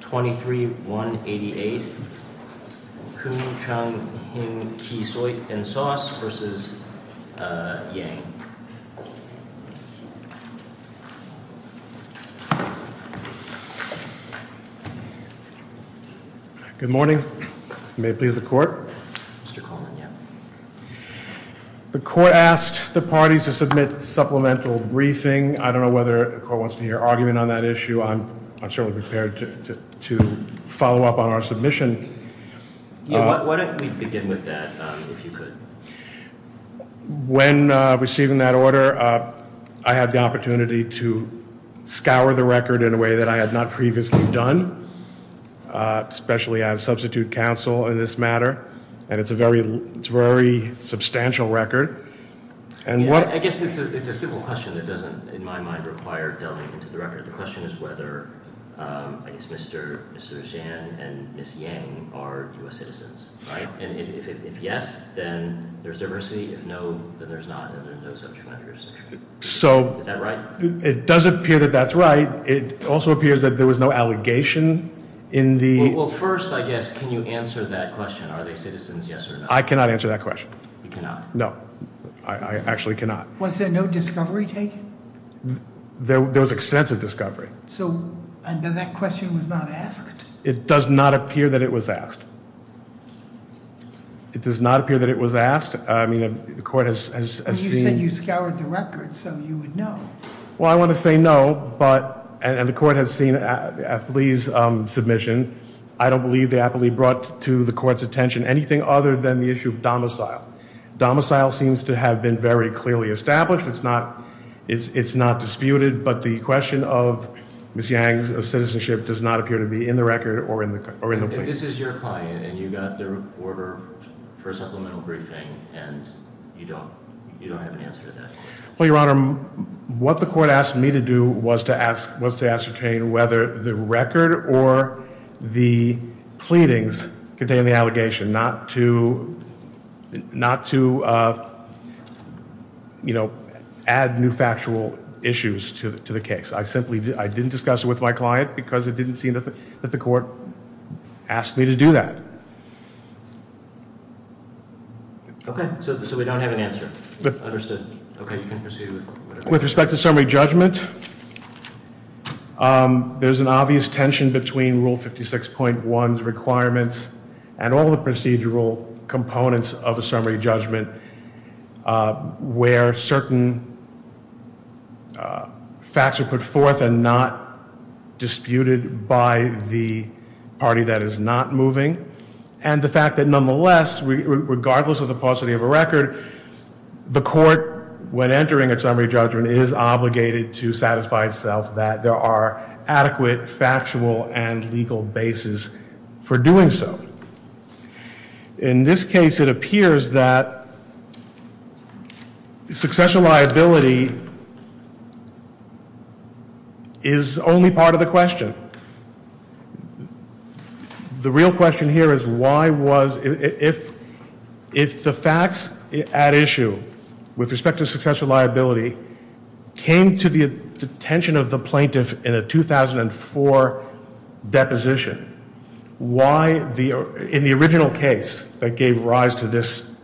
23188, Koon Chun Hing Kee Soy & Sauce v. Yang. I'm going to ask Mr. Yang to follow up on our submission. Why don't we begin with that, if you could. When receiving that order, I had the opportunity to scour the record in a way that I had not previously done, especially as substitute counsel in this matter, and it's a very substantial record. I guess it's a simple question that doesn't, in my mind, require delving into the record. The question is whether, I guess, Mr. Zhang and Ms. Yang are U.S. citizens, right? And if yes, then there's diversity. If no, then there's not. So it does appear that that's right. It also appears that there was no allegation in the Well, first, I guess, can you answer that question? Are they citizens, yes or no? I cannot answer that question. You cannot? No, I actually cannot. Was there no discovery taken? There was extensive discovery. So then that question was not asked? It does not appear that it was asked. It does not appear that it was asked. I mean, the court has seen Well, you said you scoured the record, so you would know. Well, I want to say no, but, and the court has seen Lee's submission. I don't believe that Lee brought to the court's attention anything other than the issue of domicile. Domicile seems to have been very clearly established. It's not disputed. But the question of Ms. Yang's citizenship does not appear to be in the record or in the plea. This is your client, and you got their order for a supplemental briefing, and you don't have an answer to that? Well, Your Honor, what the court asked me to do was to ascertain whether the record or the pleadings contain the allegation, not to, you know, add new factual issues to the case. I simply didn't discuss it with my client because it didn't seem that the court asked me to do that. Okay, so we don't have an answer. Understood. Okay, you can proceed. With respect to summary judgment, there's an obvious tension between Rule 56.1's requirements and all the procedural components of a summary judgment where certain facts are put forth and not disputed by the party that is not moving. And the fact that nonetheless, regardless of the paucity of a record, the court, when entering a summary judgment, is obligated to satisfy itself that there are adequate factual and legal bases for doing so. In this case, it appears that successional liability is only part of the question. The real question here is why was, if the facts at issue with respect to successional liability came to the attention of the plaintiff in a 2004 deposition, why in the original case that gave rise to this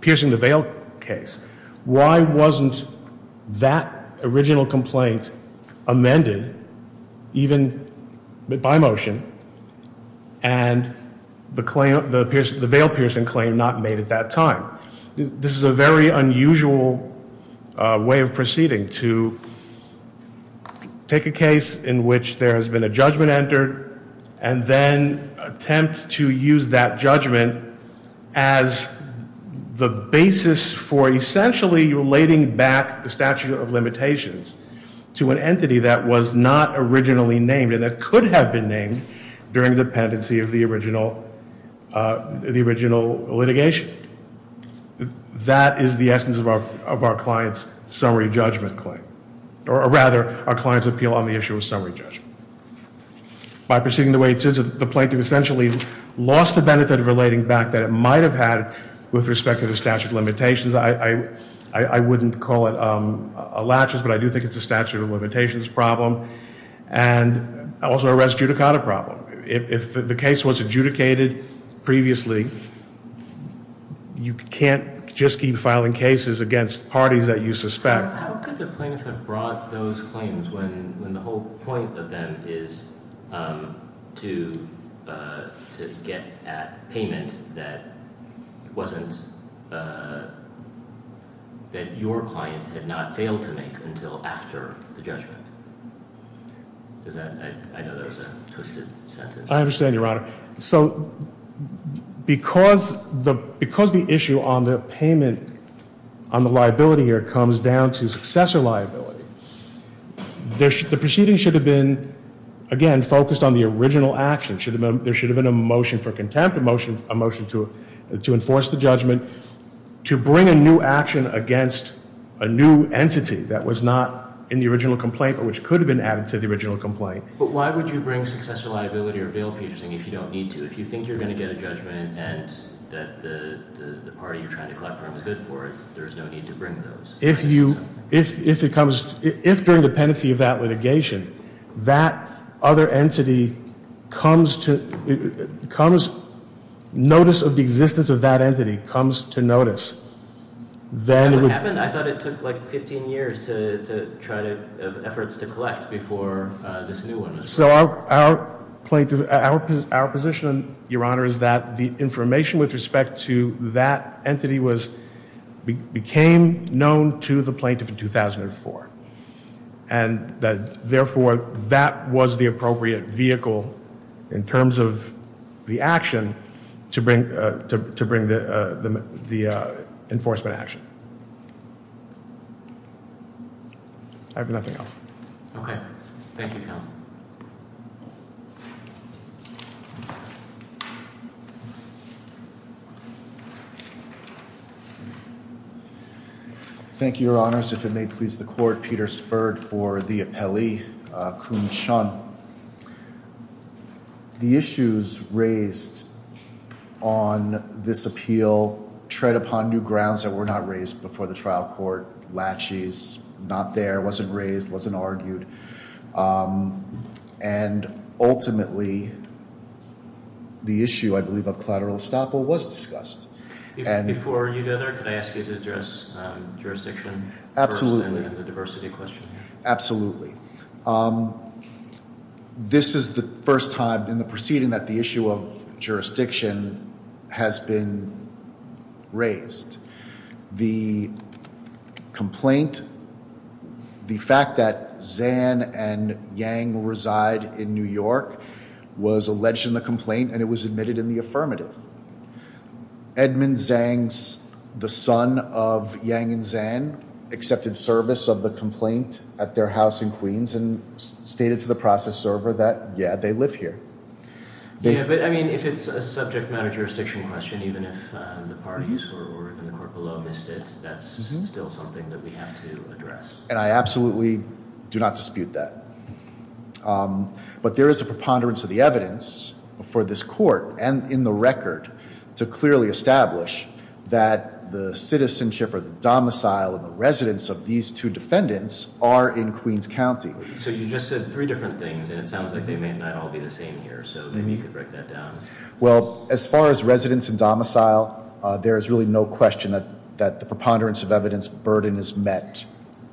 piercing the veil case, why wasn't that original complaint amended even by motion and the veil piercing claim not made at that time? This is a very unusual way of proceeding to take a case in which there has been a judgment entered and then attempt to use that judgment as the basis for essentially relating back the statute of limitations to an entity that was not originally named and that could have been named during the dependency of the original litigation. That is the essence of our client's summary judgment claim, or rather our client's appeal on the issue of summary judgment. By proceeding the way it is, the plaintiff essentially lost the benefit of relating back that it might have had with respect to the statute of limitations. I wouldn't call it a latches, but I do think it's a statute of limitations problem and also a res judicata problem. If the case was adjudicated previously, you can't just keep filing cases against parties that you suspect. How could the plaintiff have brought those claims when the whole point of them is to get at payment that your client had not failed to make until after the judgment? I know that was a twisted sentence. I understand, Your Honor. Because the issue on the payment on the liability here comes down to successor liability, the proceeding should have been, again, focused on the original action. There should have been a motion for contempt, a motion to enforce the judgment, to bring a new action against a new entity that was not in the original complaint but which could have been added to the original complaint. But why would you bring successor liability or veal piecing if you don't need to? If you think you're going to get a judgment and that the party you're trying to collect from is good for it, there's no need to bring those. If during the pendency of that litigation that other entity comes to notice, notice of the existence of that entity comes to notice, then it would I thought it took like 15 years to try to have efforts to collect before this new one. So our position, Your Honor, is that the information with respect to that entity became known to the plaintiff in 2004, and therefore that was the appropriate vehicle in terms of the action to bring the enforcement action. I have nothing else. Okay. Thank you, counsel. Thank you, Your Honors. If it may please the court, Peter Spurred for the appellee, Kun Chun. The issues raised on this appeal tread upon new grounds that were not raised before the trial court. Latches, not there, wasn't raised, wasn't argued. And ultimately, the issue, I believe, of collateral estoppel was discussed. Before you go there, can I ask you to address jurisdiction first and then the diversity question? Absolutely. This is the first time in the proceeding that the issue of jurisdiction has been raised. The complaint, the fact that Zan and Yang reside in New York was alleged in the complaint, and it was admitted in the affirmative. Edmund Zang, the son of Yang and Zan, accepted service of the complaint at their house in Queens and stated to the process server that, yeah, they live here. Yeah, but I mean, if it's a subject matter jurisdiction question, even if the parties or the court below missed it, that's still something that we have to address. And I absolutely do not dispute that. But there is a preponderance of the evidence for this court and in the record to clearly establish that the citizenship or the domicile of the residents of these two defendants are in Queens County. So you just said three different things, and it sounds like they may not all be the same here. So maybe you could break that down. Well, as far as residents and domicile, there is really no question that the preponderance of evidence burden is met,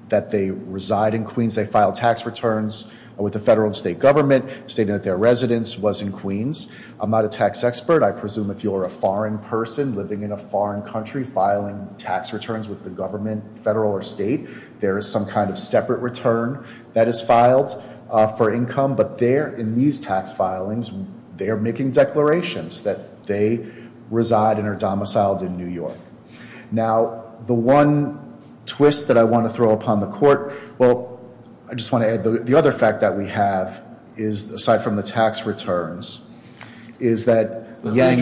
that they reside in Queens. They file tax returns with the federal and state government, stating that their residence was in Queens. I'm not a tax expert. I presume if you're a foreign person living in a foreign country filing tax returns with the government, federal or state, there is some kind of separate return. That is filed for income. But there, in these tax filings, they are making declarations that they reside and are domiciled in New York. Now, the one twist that I want to throw upon the court, well, I just want to add the other fact that we have is, aside from the tax returns, is that— I believe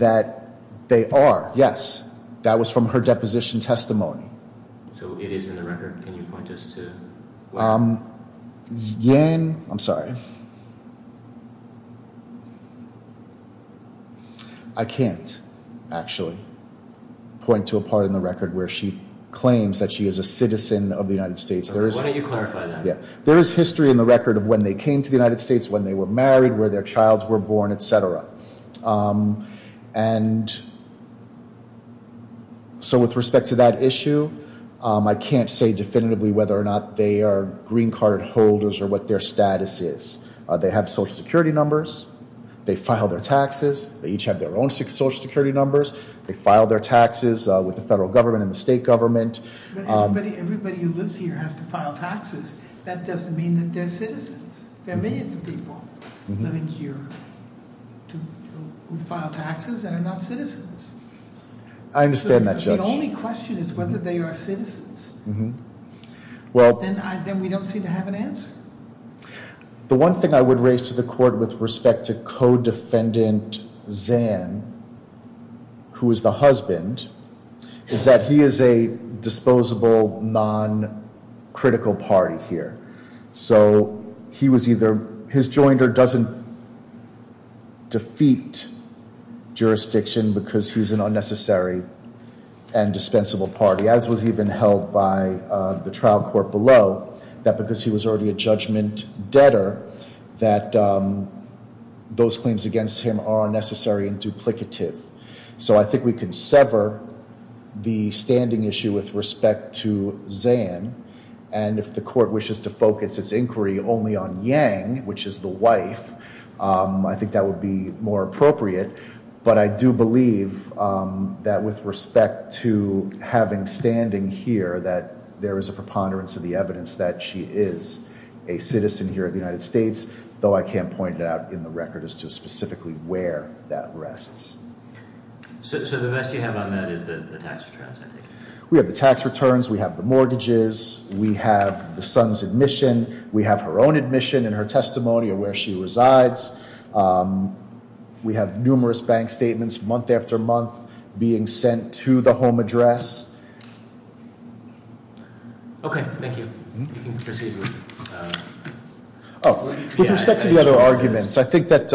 that they are. Yes. That was from her deposition testimony. So it is in the record. Can you point us to— Yan—I'm sorry. I can't, actually, point to a part in the record where she claims that she is a citizen of the United States. Why don't you clarify that? There is history in the record of when they came to the United States, when they were married, where their childs were born, etc. And so with respect to that issue, I can't say definitively whether or not they are green card holders or what their status is. They have social security numbers. They file their taxes. They each have their own social security numbers. They file their taxes with the federal government and the state government. But everybody who lives here has to file taxes. That doesn't mean that they're citizens. There are millions of people living here who file taxes and are not citizens. I understand that, Judge. The only question is whether they are citizens. Then we don't seem to have an answer. The one thing I would raise to the court with respect to Codefendant Zan, who is the husband, is that he is a disposable, non-critical party here. So he was either—his joinder doesn't defeat jurisdiction because he's an unnecessary and dispensable party, as was even held by the trial court below, that because he was already a judgment debtor, that those claims against him are unnecessary and duplicative. So I think we could sever the standing issue with respect to Zan. And if the court wishes to focus its inquiry only on Yang, which is the wife, I think that would be more appropriate. But I do believe that with respect to having standing here, that there is a preponderance of the evidence that she is a citizen here in the United States, though I can't point it out in the record as to specifically where that rests. We have the tax returns. We have the mortgages. We have the son's admission. We have her own admission and her testimony of where she resides. We have numerous bank statements, month after month, being sent to the home address. Okay, thank you. With respect to the other arguments, I think that,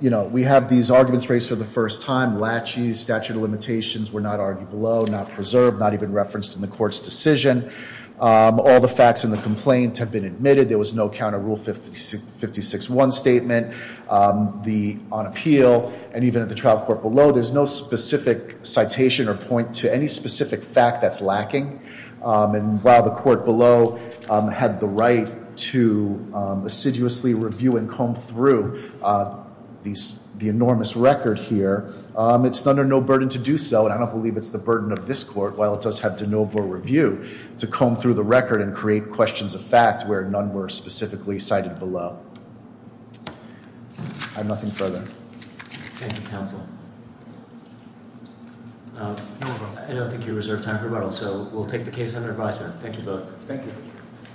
you know, we have these arguments raised for the first time. Lachey's statute of limitations were not argued below, not preserved, not even referenced in the court's decision. All the facts in the complaint have been admitted. There was no counter rule 56-1 statement on appeal. And even at the trial court below, there's no specific citation or point to any specific fact that's lacking. And while the court below had the right to assiduously review and comb through the enormous record here, it's under no burden to do so, and I don't believe it's the burden of this court, while it does have de novo review, to comb through the record and create questions of fact where none were specifically cited below. I have nothing further. Thank you, counsel. I don't think you reserve time for rebuttal, so we'll take the case under advisement. Thank you both. Thank you.